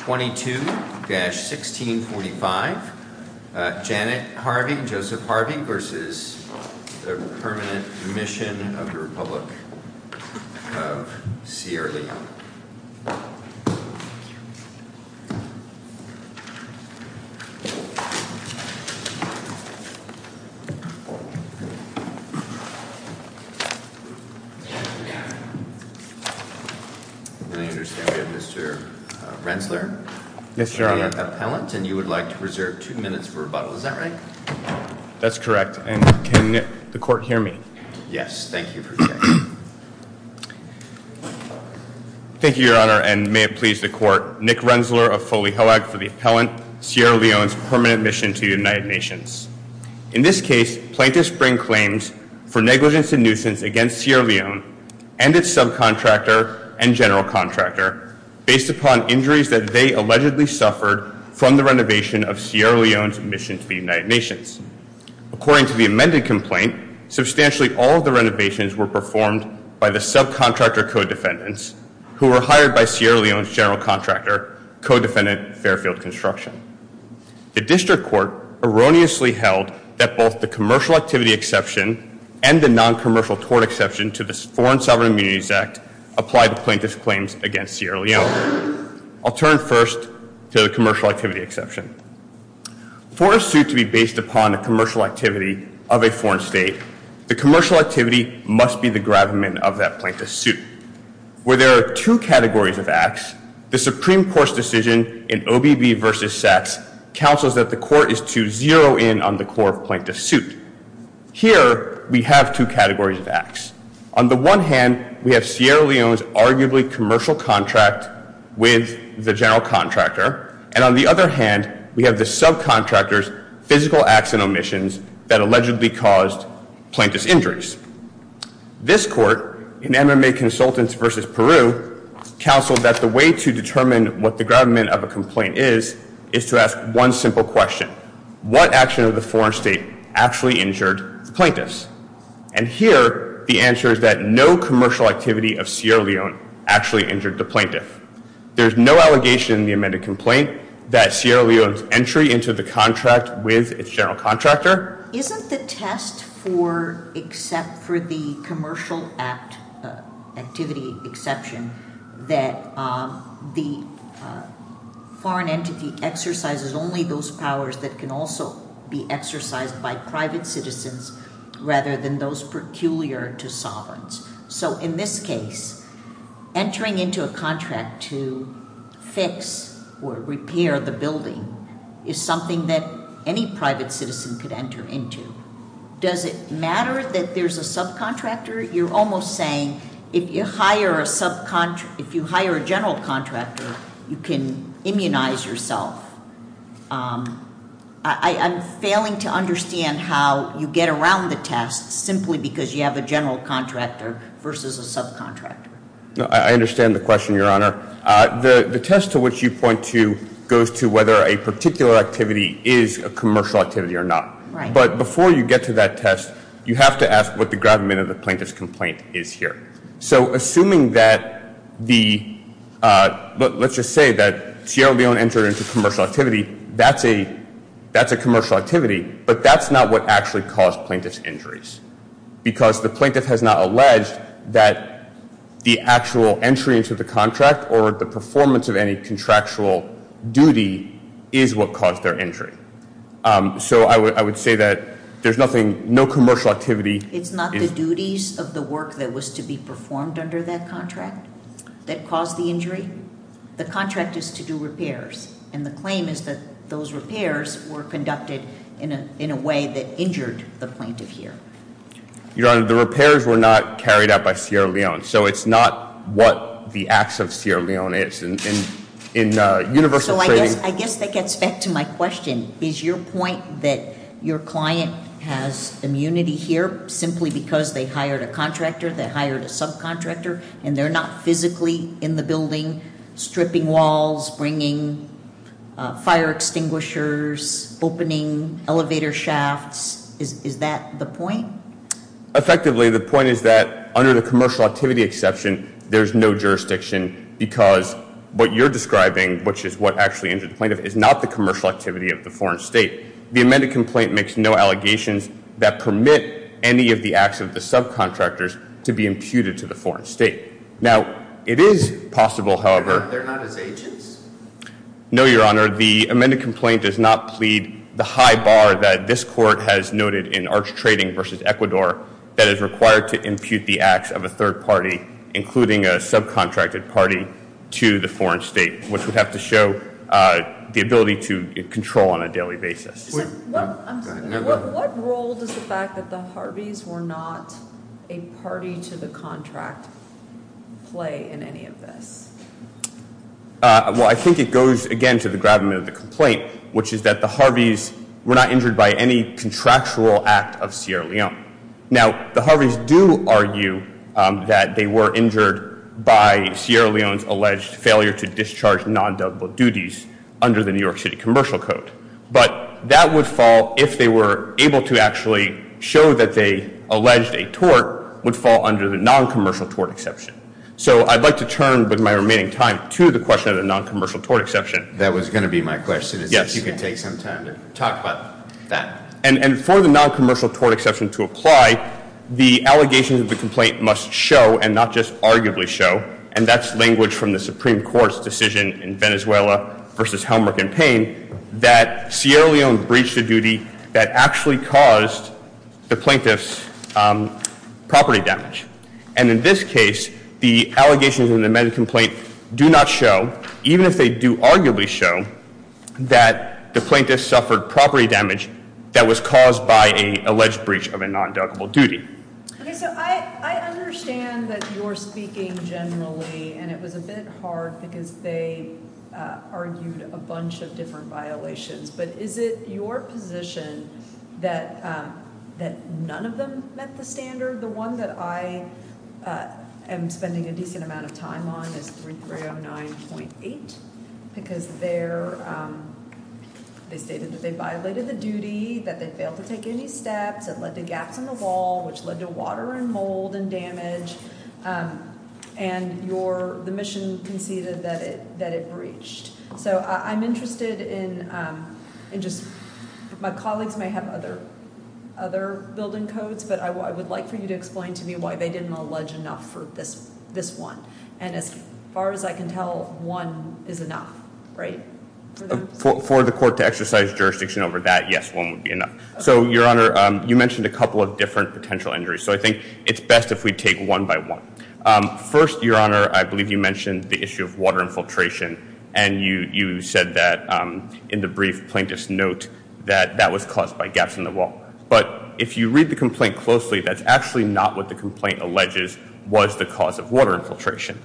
22-1645, Janet Harvey, Joseph Harvey v. Permanent Mission of The Republic of Sierra Leone I understand we have Mr. Rensler, the appellant, and you would like to reserve two minutes for rebuttal, is that right? That's correct, and can the court hear me? Yes, thank you for your testimony. Thank you, Your Honor, and may it please the court, Nick Rensler of Foley-Hellack for the appellant, Sierra Leone's permanent mission to the United Nations. In this case, plaintiffs bring claims for negligence and nuisance against Sierra Leone and its subcontractor and general contractor based upon injuries that they allegedly suffered from the renovation of Sierra Leone's mission to the United Nations. According to the amended complaint, substantially all of the renovations were performed by the subcontractor co-defendants who were hired by Sierra Leone's general contractor, co-defendant Fairfield Construction. The district court erroneously held that both the commercial activity exception and the non-commercial tort exception to the Foreign Sovereign Immunities Act apply to plaintiff's claims against Sierra Leone. I'll turn first to the commercial activity exception. For a suit to be based upon a commercial activity of a foreign state, the commercial activity must be the gravamen of that plaintiff's suit. Where there are two categories of acts, the Supreme Court's decision in OBB v. Sachs counsels that the court is to zero in on the core of plaintiff's suit. Here, we have two categories of acts. On the one hand, we have Sierra Leone's arguably commercial contract with the general contractor, and on the other hand, we have the subcontractor's physical acts and omissions that allegedly caused plaintiff's injuries. This court, in MMA Consultants v. Peru, counseled that the way to determine what the gravamen of a complaint is, is to ask one simple question. What action of the foreign state actually injured the plaintiffs? And here, the answer is that no commercial activity of Sierra Leone actually injured the plaintiff. There's no allegation in the amended complaint that Sierra Leone's entry into the contract with its general contractor. But isn't the test for, except for the commercial act, activity exception, that the foreign entity exercises only those powers that can also be exercised by private citizens rather than those peculiar to sovereigns? So in this case, entering into a contract to fix or repair the building is something that any private citizen could enter into. Does it matter that there's a subcontractor? You're almost saying if you hire a general contractor, you can immunize yourself. I'm failing to understand how you get around the test simply because you have a general contractor versus a subcontractor. I understand the question, Your Honor. The test to which you point to goes to whether a particular activity is a commercial activity or not. But before you get to that test, you have to ask what the gravamen of the plaintiff's complaint is here. So assuming that the, let's just say that Sierra Leone entered into commercial activity, that's a commercial activity, but that's not what actually caused plaintiff's injuries. Because the plaintiff has not alleged that the actual entry into the contract or the performance of any contractual duty is what caused their injury. So I would say that there's nothing, no commercial activity. It's not the duties of the work that was to be performed under that contract that caused the injury. The contract is to do repairs, and the claim is that those repairs were conducted in a way that injured the plaintiff here. Your Honor, the repairs were not carried out by Sierra Leone. So it's not what the acts of Sierra Leone is. In universal trading- So I guess that gets back to my question. Is your point that your client has immunity here simply because they hired a contractor, they hired a subcontractor, and they're not physically in the building stripping walls, bringing fire extinguishers, opening elevator shafts? Is that the point? Effectively, the point is that under the commercial activity exception, there's no jurisdiction because what you're describing, which is what actually injured the plaintiff, is not the commercial activity of the foreign state. The amended complaint makes no allegations that permit any of the acts of the subcontractors to be imputed to the foreign state. Now, it is possible, however- They're not as agents? No, Your Honor. The amended complaint does not plead the high bar that this court has noted in Arch Trading v. Ecuador that is required to impute the acts of a third party, including a subcontracted party, to the foreign state, which would have to show the ability to control on a daily basis. What role does the fact that the Harveys were not a party to the contract play in any of this? Well, I think it goes, again, to the gravamen of the complaint, which is that the Harveys were not injured by any contractual act of Sierra Leone. Now, the Harveys do argue that they were injured by Sierra Leone's alleged failure to discharge non-deductible duties under the New York City Commercial Code. But that would fall, if they were able to actually show that they alleged a tort, would fall under the non-commercial tort exception. So I'd like to turn, with my remaining time, to the question of the non-commercial tort exception. That was going to be my question, is if you could take some time to talk about that. And for the non-commercial tort exception to apply, the allegations of the complaint must show, and not just arguably show, and that's language from the Supreme Court's decision in Venezuela versus Helmer campaign, that Sierra Leone breached a duty that actually caused the plaintiff's property damage. And in this case, the allegations in the medical complaint do not show, even if they do arguably show, that the plaintiff suffered property damage that was caused by an alleged breach of a non-deductible duty. Okay, so I understand that you're speaking generally, and it was a bit hard because they argued a bunch of different violations. But is it your position that none of them met the standard? The one that I am spending a decent amount of time on is 3309.8, because they stated that they violated the duty, that they failed to take any steps, that led to gaps in the wall, which led to water and mold and damage, and the mission conceded that it breached. So I'm interested in just my colleagues may have other building codes, but I would like for you to explain to me why they didn't allege enough for this one. And as far as I can tell, one is enough, right? For the court to exercise jurisdiction over that, yes, one would be enough. So, Your Honor, you mentioned a couple of different potential injuries, so I think it's best if we take one by one. First, Your Honor, I believe you mentioned the issue of water infiltration, and you said that in the brief plaintiff's note that that was caused by gaps in the wall. But if you read the complaint closely, that's actually not what the complaint alleges was the cause of water infiltration.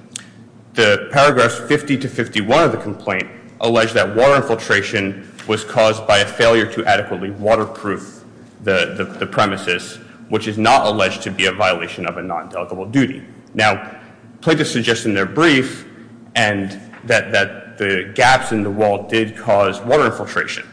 The paragraphs 50 to 51 of the complaint allege that water infiltration was caused by a failure to adequately waterproof the premises, which is not alleged to be a violation of a non-delegable duty. Now, plaintiffs suggest in their brief that the gaps in the wall did cause water infiltration,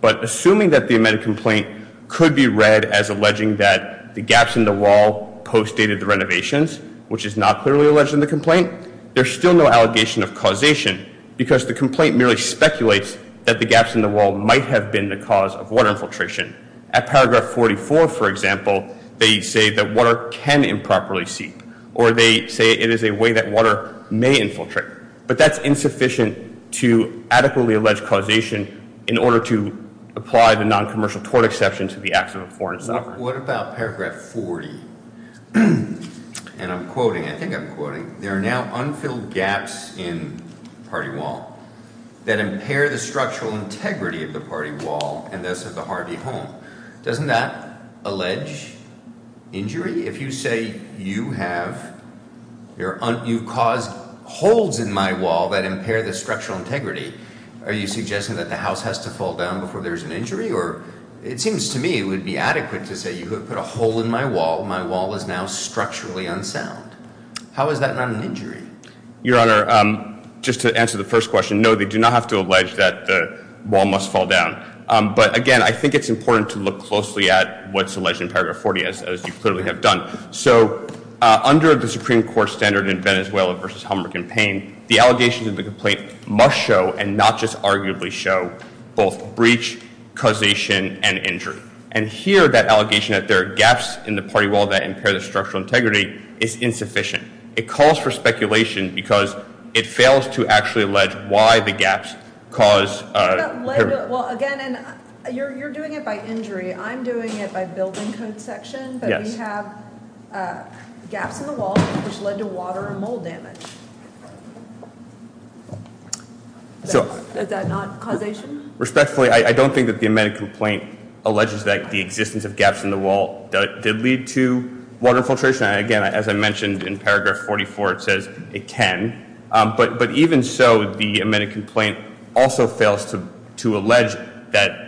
but assuming that the amended complaint could be read as alleging that the gaps in the wall postdated the renovations, which is not clearly alleged in the complaint, there's still no allegation of causation because the complaint merely speculates that the gaps in the wall might have been the cause of water infiltration. At paragraph 44, for example, they say that water can improperly seep, or they say it is a way that water may infiltrate, but that's insufficient to adequately allege causation in order to apply the noncommercial tort exception to the acts of a foreign sovereign. What about paragraph 40? And I'm quoting, I think I'm quoting, there are now unfilled gaps in the party wall that impair the structural integrity of the party wall and thus of the Harvey home. Doesn't that allege injury? If you say you have caused holes in my wall that impair the structural integrity, are you suggesting that the house has to fall down before there's an injury, or it seems to me it would be adequate to say you could put a hole in my wall, my wall is now structurally unsound. How is that not an injury? Your Honor, just to answer the first question, no, they do not have to allege that the wall must fall down. But again, I think it's important to look closely at what's alleged in paragraph 40, as you clearly have done. So under the Supreme Court standard in Venezuela versus Helmer campaign, the allegations of the complaint must show, and not just arguably show, both breach, causation, and injury. And here that allegation that there are gaps in the party wall that impair the structural integrity is insufficient. It calls for speculation because it fails to actually allege why the gaps cause. Well, again, you're doing it by injury. I'm doing it by building code section, but we have gaps in the wall which led to water and mold damage. Is that not causation? Respectfully, I don't think that the amended complaint alleges that the existence of gaps in the wall did lead to water infiltration. Again, as I mentioned in paragraph 44, it says it can. But even so, the amended complaint also fails to allege that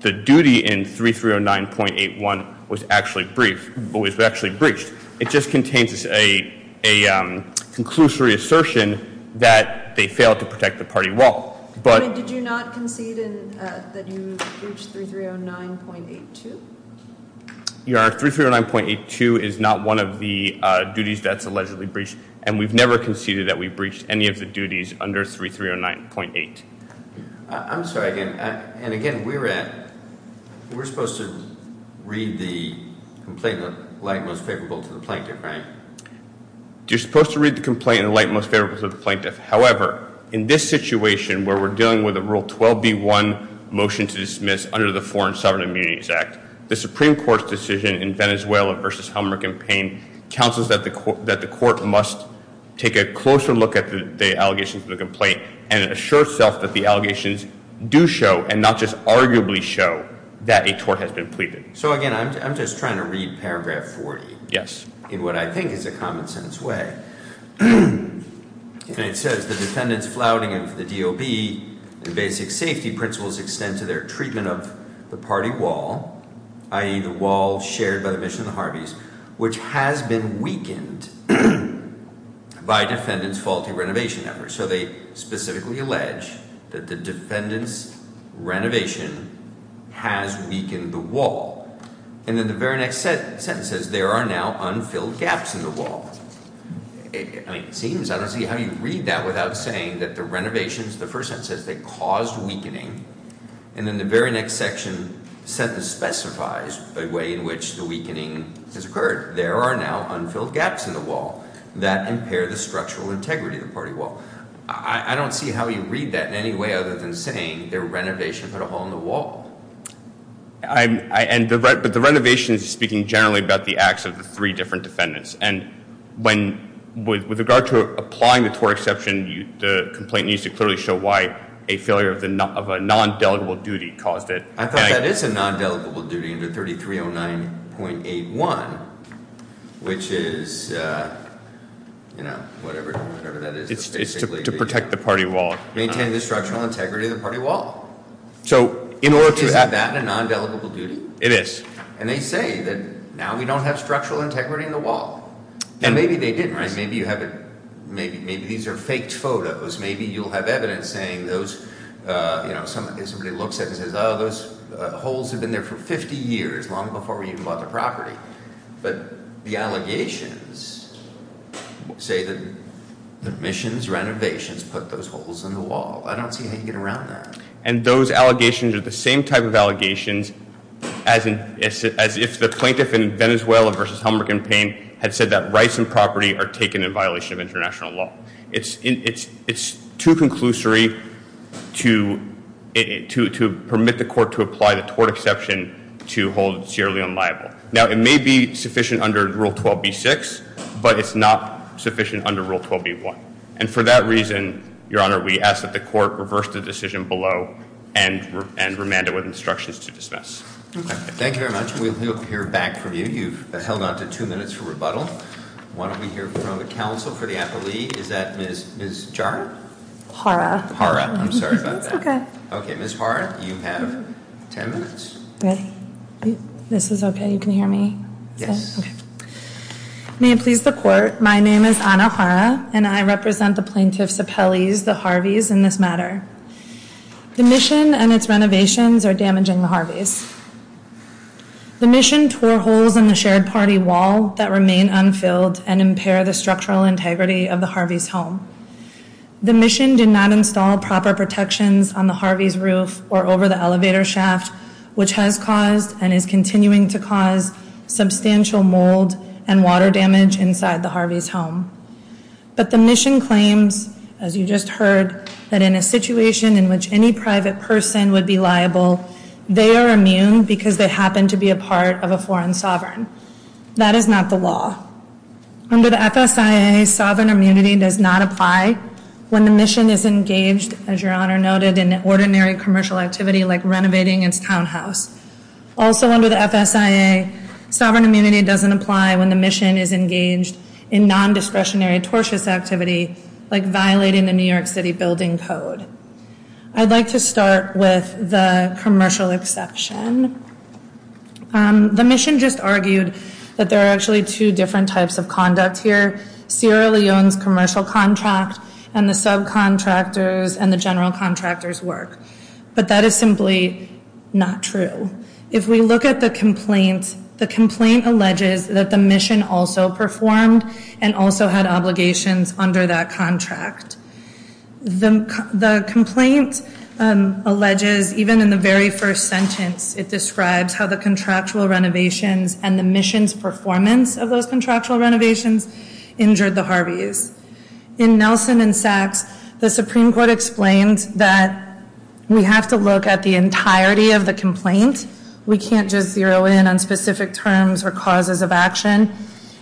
the duty in 3309.81 was actually breached. It just contains a conclusory assertion that they failed to protect the party wall. Did you not concede that you breached 3309.82? Your 3309.82 is not one of the duties that's allegedly breached, and we've never conceded that we breached any of the duties under 3309.8. I'm sorry, and again, we're supposed to read the complaint in the light most favorable to the plaintiff, right? You're supposed to read the complaint in the light most favorable to the plaintiff. However, in this situation where we're dealing with a Rule 12b-1 motion to dismiss under the Foreign Sovereign Immunities Act, the Supreme Court's decision in Venezuela v. Helmer campaign counsels that the court must take a closer look at the allegations of the complaint and assure itself that the allegations do show and not just arguably show that a tort has been pleaded. So again, I'm just trying to read paragraph 40 in what I think is a common-sense way. And it says, The defendants' flouting of the DOB and basic safety principles extend to their treatment of the party wall, i.e., the wall shared by the mission of the Harveys, which has been weakened by defendants' faulty renovation efforts. So they specifically allege that the defendants' renovation has weakened the wall. And then the very next sentence says, There are now unfilled gaps in the wall. It seems, I don't see how you read that without saying that the renovations, the first sentence says they caused weakening. And then the very next section specifies the way in which the weakening has occurred. There are now unfilled gaps in the wall that impair the structural integrity of the party wall. I don't see how you read that in any way other than saying their renovation put a hole in the wall. But the renovation is speaking generally about the acts of the three different defendants. And with regard to applying the TOR exception, the complaint needs to clearly show why a failure of a non-delegable duty caused it. I thought that is a non-delegable duty under 3309.81, which is, you know, whatever that is. It's to protect the party wall. Maintain the structural integrity of the party wall. So in order to- Isn't that a non-delegable duty? It is. And they say that now we don't have structural integrity in the wall. And maybe they didn't, right? Maybe you haven't, maybe these are faked photos. Maybe you'll have evidence saying those, you know, somebody looks at it and says, Oh, those holes have been there for 50 years, long before we even bought the property. But the allegations say that the admissions renovations put those holes in the wall. I don't see how you get around that. And those allegations are the same type of allegations as if the plaintiff in Venezuela versus Humber campaign had said that rights and property are taken in violation of international law. It's too conclusory to permit the court to apply the TOR exception to hold it severely unliable. Now, it may be sufficient under Rule 12b-6, but it's not sufficient under Rule 12b-1. And for that reason, Your Honor, we ask that the court reverse the decision below and remand it with instructions to dismiss. Thank you very much. We'll hear back from you. You've held on to two minutes for rebuttal. Why don't we hear from the counsel for the appellee. Is that Ms. Jara? Hara. Hara. I'm sorry about that. That's okay. Okay, Ms. Hara, you have ten minutes. Ready? This is okay, you can hear me? Yes. Okay. May it please the court. My name is Ana Hara, and I represent the plaintiff's appellees, the Harveys, in this matter. The mission and its renovations are damaging the Harveys. The mission tore holes in the shared party wall that remain unfilled and impair the structural integrity of the Harveys' home. The mission did not install proper protections on the Harveys' roof or over the elevator shaft, which has caused and is continuing to cause substantial mold and water damage inside the Harveys' home. But the mission claims, as you just heard, that in a situation in which any private person would be liable, they are immune because they happen to be a part of a foreign sovereign. That is not the law. Under the FSIA, sovereign immunity does not apply when the mission is engaged, as Your Honor noted, in ordinary commercial activity like renovating its townhouse. Also under the FSIA, sovereign immunity doesn't apply when the mission is engaged in nondiscretionary, tortious activity like violating the New York City Building Code. I'd like to start with the commercial exception. The mission just argued that there are actually two different types of conduct here. Sierra Leone's commercial contract and the subcontractors and the general contractors' work. But that is simply not true. If we look at the complaint, the complaint alleges that the mission also performed and also had obligations under that contract. The complaint alleges, even in the very first sentence, it describes how the contractual renovations and the mission's performance of those contractual renovations injured the Harveys. In Nelson and Sachs, the Supreme Court explains that we have to look at the entirety of the complaint. We can't just zero in on specific terms or causes of action.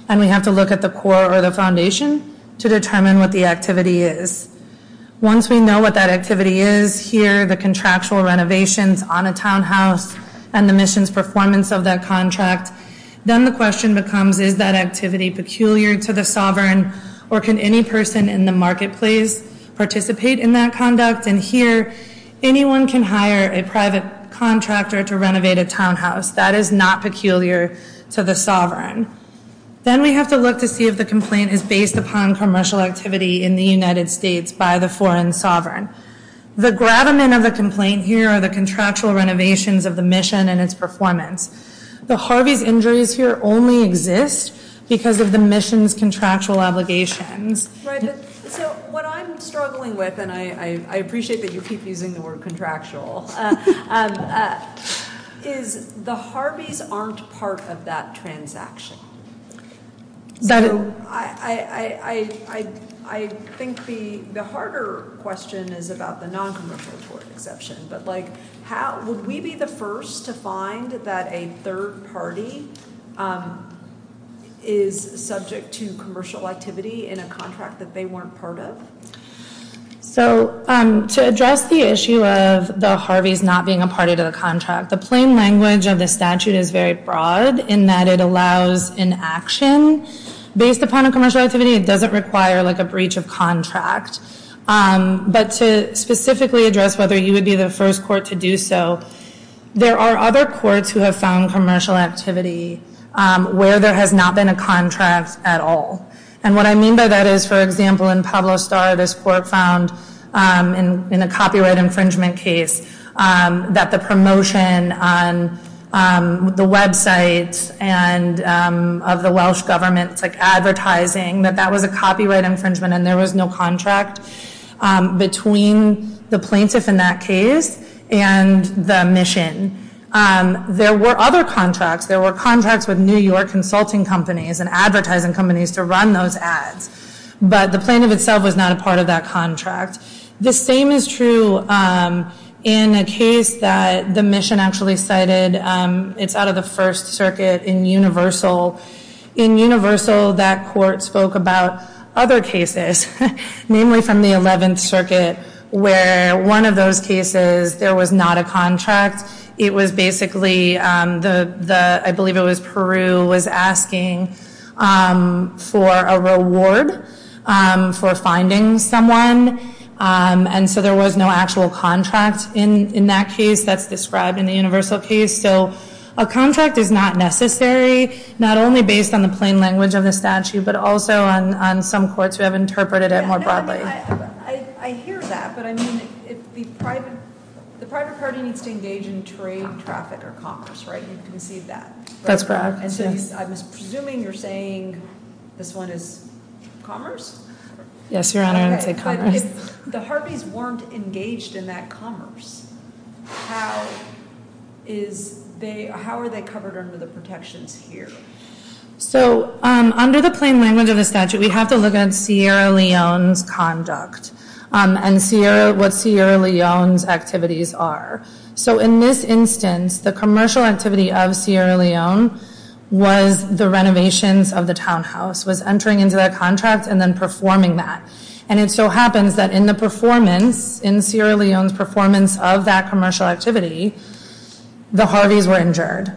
And we have to look at the core or the foundation to determine what the activity is. Once we know what that activity is here, the contractual renovations on a townhouse, and the mission's performance of that contract, then the question becomes, is that activity peculiar to the sovereign, or can any person in the marketplace participate in that conduct? And here, anyone can hire a private contractor to renovate a townhouse. That is not peculiar to the sovereign. Then we have to look to see if the complaint is based upon commercial activity in the United States by the foreign sovereign. The gravamen of the complaint here are the contractual renovations of the mission and its performance. The Harveys' injuries here only exist because of the mission's contractual obligations. So what I'm struggling with, and I appreciate that you keep using the word contractual, is the Harveys aren't part of that transaction. So I think the harder question is about the non-commercial exception. But would we be the first to find that a third party is subject to commercial activity in a contract that they weren't part of? So to address the issue of the Harveys not being a part of the contract, the plain language of the statute is very broad in that it allows inaction. Based upon a commercial activity, it doesn't require a breach of contract. But to specifically address whether you would be the first court to do so, there are other courts who have found commercial activity where there has not been a contract at all. And what I mean by that is, for example, in Pueblo Star, this court found in a copyright infringement case that the promotion on the website of the Welsh government advertising, that that was a copyright infringement and there was no contract between the plaintiff in that case and the mission. There were other contracts. There were contracts with New York consulting companies and advertising companies to run those ads. But the plaintiff itself was not a part of that contract. The same is true in a case that the mission actually cited. It's out of the First Circuit in Universal. In Universal, that court spoke about other cases, namely from the 11th Circuit, where one of those cases there was not a contract. It was basically, I believe it was Peru, was asking for a reward for finding someone. And so there was no actual contract in that case that's described in the Universal case. So a contract is not necessary, not only based on the plain language of the statute, but also on some courts who have interpreted it more broadly. I hear that, but I mean, the private party needs to engage in trade, traffic, or commerce, right? You can see that. That's correct. And so I'm presuming you're saying this one is commerce? Yes, Your Honor. I didn't say commerce. If the Harveys weren't engaged in that commerce, how are they covered under the protections here? So under the plain language of the statute, we have to look at Sierra Leone's conduct and what Sierra Leone's activities are. So in this instance, the commercial activity of Sierra Leone was the renovations of the townhouse, was entering into that contract and then performing that. And it so happens that in the performance, in Sierra Leone's performance of that commercial activity, the Harveys were injured.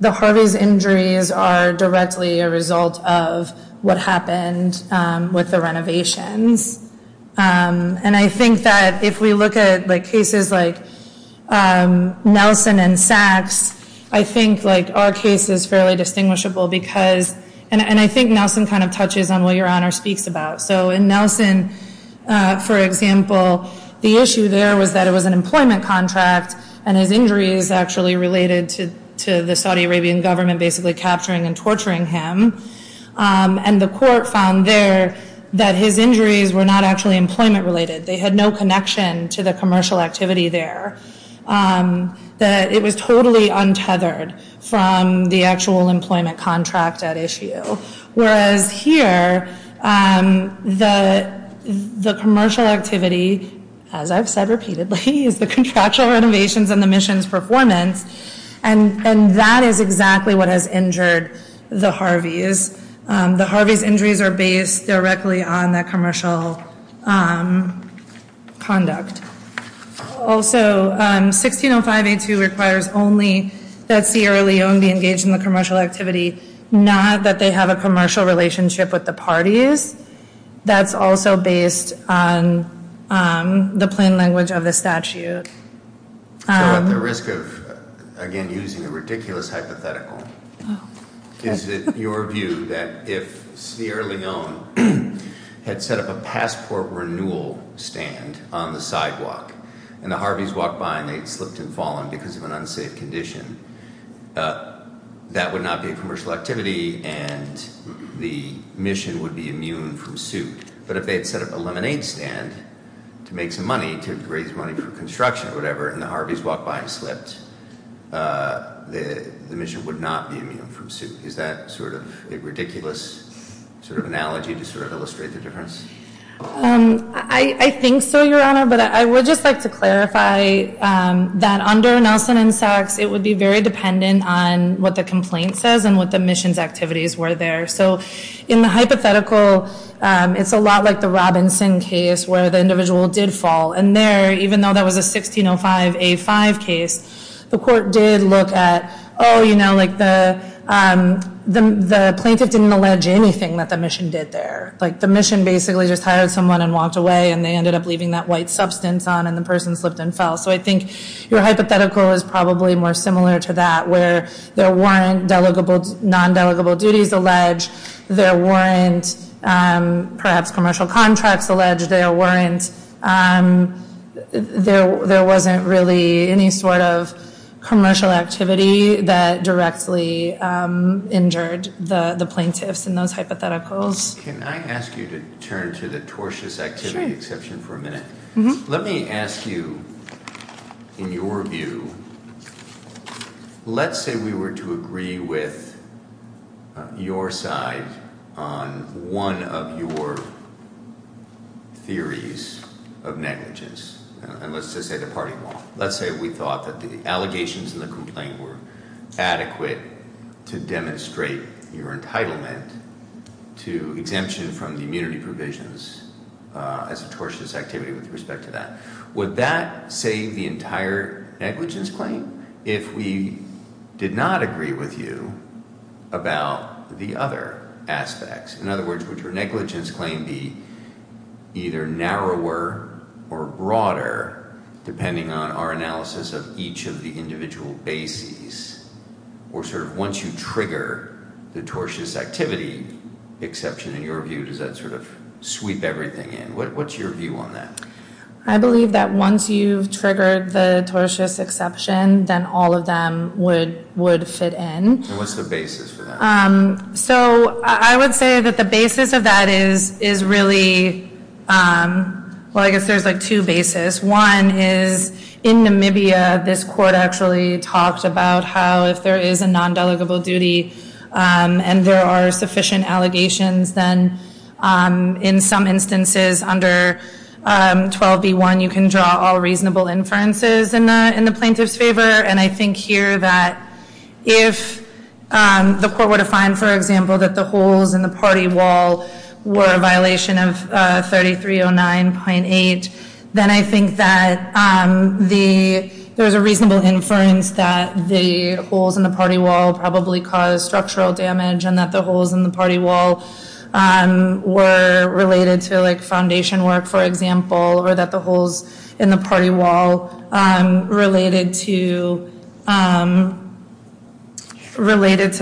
The Harveys' injuries are directly a result of what happened with the renovations. And I think that if we look at cases like Nelson and Sachs, I think our case is fairly distinguishable because, and I think Nelson kind of touches on what Your Honor speaks about. So in Nelson, for example, the issue there was that it was an employment contract and his injuries actually related to the Saudi Arabian government basically capturing and torturing him. And the court found there that his injuries were not actually employment related. They had no connection to the commercial activity there. It was totally untethered from the actual employment contract at issue. Whereas here, the commercial activity, as I've said repeatedly, is the contractual renovations and the mission's performance. And that is exactly what has injured the Harveys. The Harveys' injuries are based directly on that commercial conduct. Also, 1605A2 requires only that Sierra Leone be engaged in the commercial activity, not that they have a commercial relationship with the parties. That's also based on the plain language of the statute. So at the risk of, again, using a ridiculous hypothetical, is it your view that if Sierra Leone had set up a passport renewal stand on the sidewalk and the Harveys walked by and they'd slipped and fallen because of an unsafe condition, that would not be a commercial activity and the mission would be immune from suit? But if they had set up a lemonade stand to make some money, to raise money for construction or whatever, and the Harveys walked by and slipped, the mission would not be immune from suit. Is that sort of a ridiculous sort of analogy to sort of illustrate the difference? I think so, Your Honor. But I would just like to clarify that under Nelson and Sachs, it would be very dependent on what the complaint says and what the mission's activities were there. So in the hypothetical, it's a lot like the Robinson case where the individual did fall. And there, even though that was a 1605A5 case, the court did look at, oh, you know, like the plaintiff didn't allege anything that the mission did there. Like the mission basically just hired someone and walked away and they ended up leaving that white substance on and the person slipped and fell. So I think your hypothetical is probably more similar to that, where there weren't non-delegable duties alleged, there weren't perhaps commercial contracts alleged, there wasn't really any sort of commercial activity that directly injured the plaintiffs in those hypotheticals. Can I ask you to turn to the tortious activity exception for a minute? Let me ask you, in your view, let's say we were to agree with your side on one of your theories of negligence. And let's just say the party won't. Let's say we thought that the allegations in the complaint were adequate to demonstrate your entitlement to exemption from the immunity provisions as a tortious activity with respect to that. Would that save the entire negligence claim if we did not agree with you about the other aspects? In other words, would your negligence claim be either narrower or broader, depending on our analysis of each of the individual bases, or sort of once you trigger the tortious activity exception, in your view, does that sort of sweep everything in? What's your view on that? I believe that once you've triggered the tortious exception, then all of them would fit in. And what's the basis for that? So I would say that the basis of that is really, well, I guess there's like two bases. One is in Namibia, this court actually talked about how if there is a non-delegable duty and there are sufficient allegations, then in some instances under 12b.1, you can draw all reasonable inferences in the plaintiff's favor. And I think here that if the court were to find, for example, that the holes in the party wall were a violation of 3309.8, then I think that there's a reasonable inference that the holes in the party wall probably caused structural damage and that the holes in the party wall were related to foundation work, for example, or that the holes in the party wall related to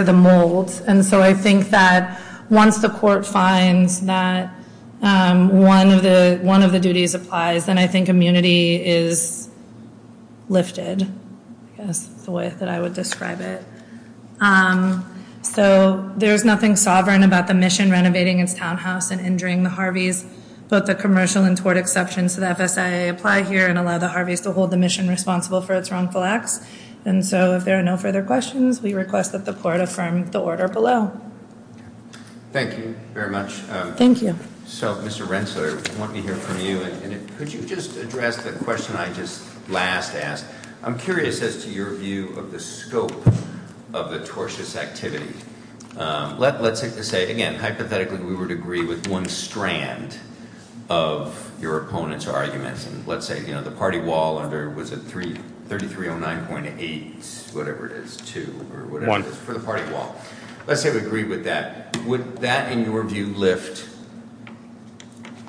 the mold. And so I think that once the court finds that one of the duties applies, then I think immunity is lifted, I guess is the way that I would describe it. So there's nothing sovereign about the mission renovating its townhouse and injuring the Harveys, both the commercial and tort exceptions to the FSIA apply here and allow the Harveys to hold the mission responsible for its wrongful acts. And so if there are no further questions, we request that the court affirm the order below. Thank you very much. Thank you. So, Mr. Rensselaer, I want to hear from you. Could you just address the question I just last asked? I'm curious as to your view of the scope of the tortious activity. Let's say, again, hypothetically we would agree with one strand of your opponent's arguments. Let's say the party wall under, was it 3309.8, whatever it is, 2, or whatever it is for the party wall. Let's say we agree with that. Would that, in your view, lift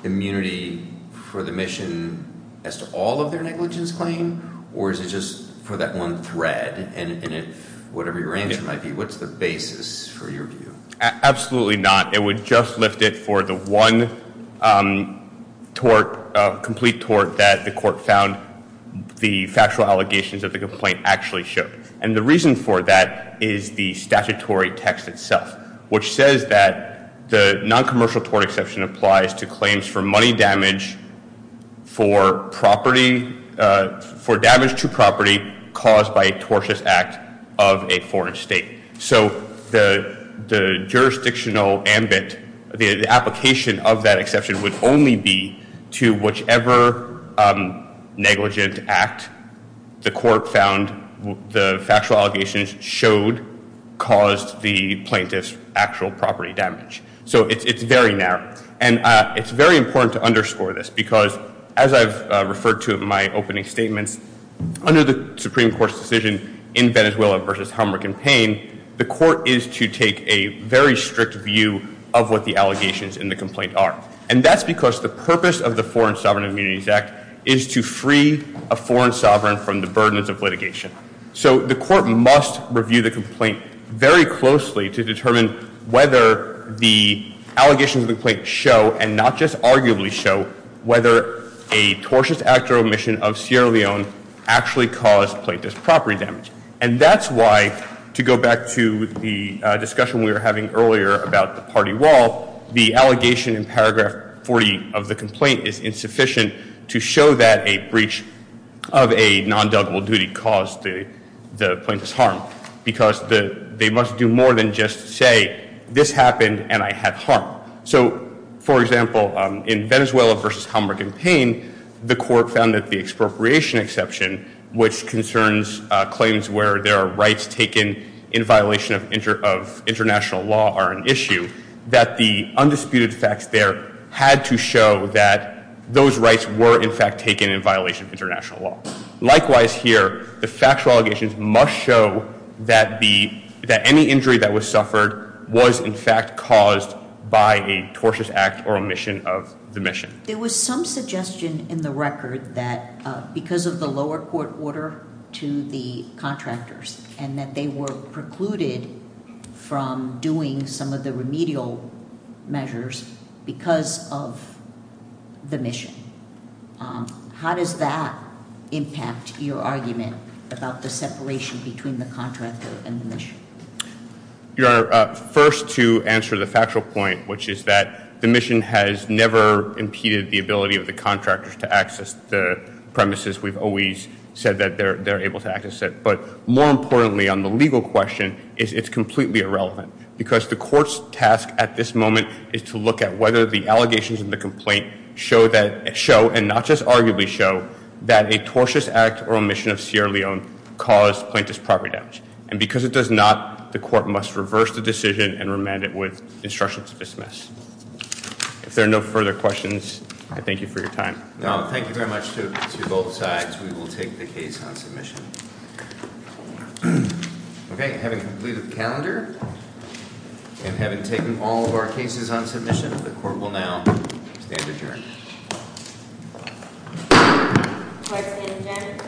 immunity for the mission as to all of their negligence claim? Or is it just for that one thread? And whatever your answer might be, what's the basis for your view? Absolutely not. It would just lift it for the one tort, complete tort that the court found the factual allegations of the complaint actually showed. And the reason for that is the statutory text itself, which says that the noncommercial tort exception applies to claims for money damage for property, for damage to property caused by a tortious act of a foreign state. So the jurisdictional ambit, the application of that exception, would only be to whichever negligent act the court found the factual allegations showed caused the plaintiff's actual property damage. So it's very narrow. And it's very important to underscore this because, as I've referred to in my opening statements, under the Supreme Court's decision in Venezuela versus Humber campaign, the court is to take a very strict view of what the allegations in the complaint are. And that's because the purpose of the Foreign Sovereign Immunities Act is to free a foreign sovereign from the burdens of litigation. So the court must review the complaint very closely to determine whether the allegations of the complaint show, and not just arguably show, whether a tortious act or omission of Sierra Leone actually caused plaintiff's property damage. And that's why, to go back to the discussion we were having earlier about the party wall, the allegation in paragraph 40 of the complaint is insufficient to show that a breach of a nondeligible duty caused the plaintiff's harm, because they must do more than just say, this happened and I had harm. So, for example, in Venezuela versus Humber campaign, the court found that the expropriation exception, which concerns claims where there are rights taken in violation of international law are an issue, that the undisputed facts there had to show that those rights were in fact taken in violation of international law. Likewise here, the factual allegations must show that any injury that was suffered was in fact caused by a tortious act or omission of the mission. There was some suggestion in the record that because of the lower court order to the contractors, and that they were precluded from doing some of the remedial measures because of the mission. How does that impact your argument about the separation between the contractor and the mission? Your Honor, first to answer the factual point, which is that the mission has never impeded the ability of the contractors to access the premises. We've always said that they're able to access it. But more importantly, on the legal question, it's completely irrelevant, because the court's task at this moment is to look at whether the allegations in the complaint show, and not just arguably show, that a tortious act or omission of Sierra Leone caused plaintiff's property damage. And because it does not, the court must reverse the decision and remand it with instruction to dismiss. If there are no further questions, I thank you for your time. No, thank you very much to both sides. We will take the case on submission. Okay, having completed the calendar, and having taken all of our cases on submission, the court will now stand adjourned.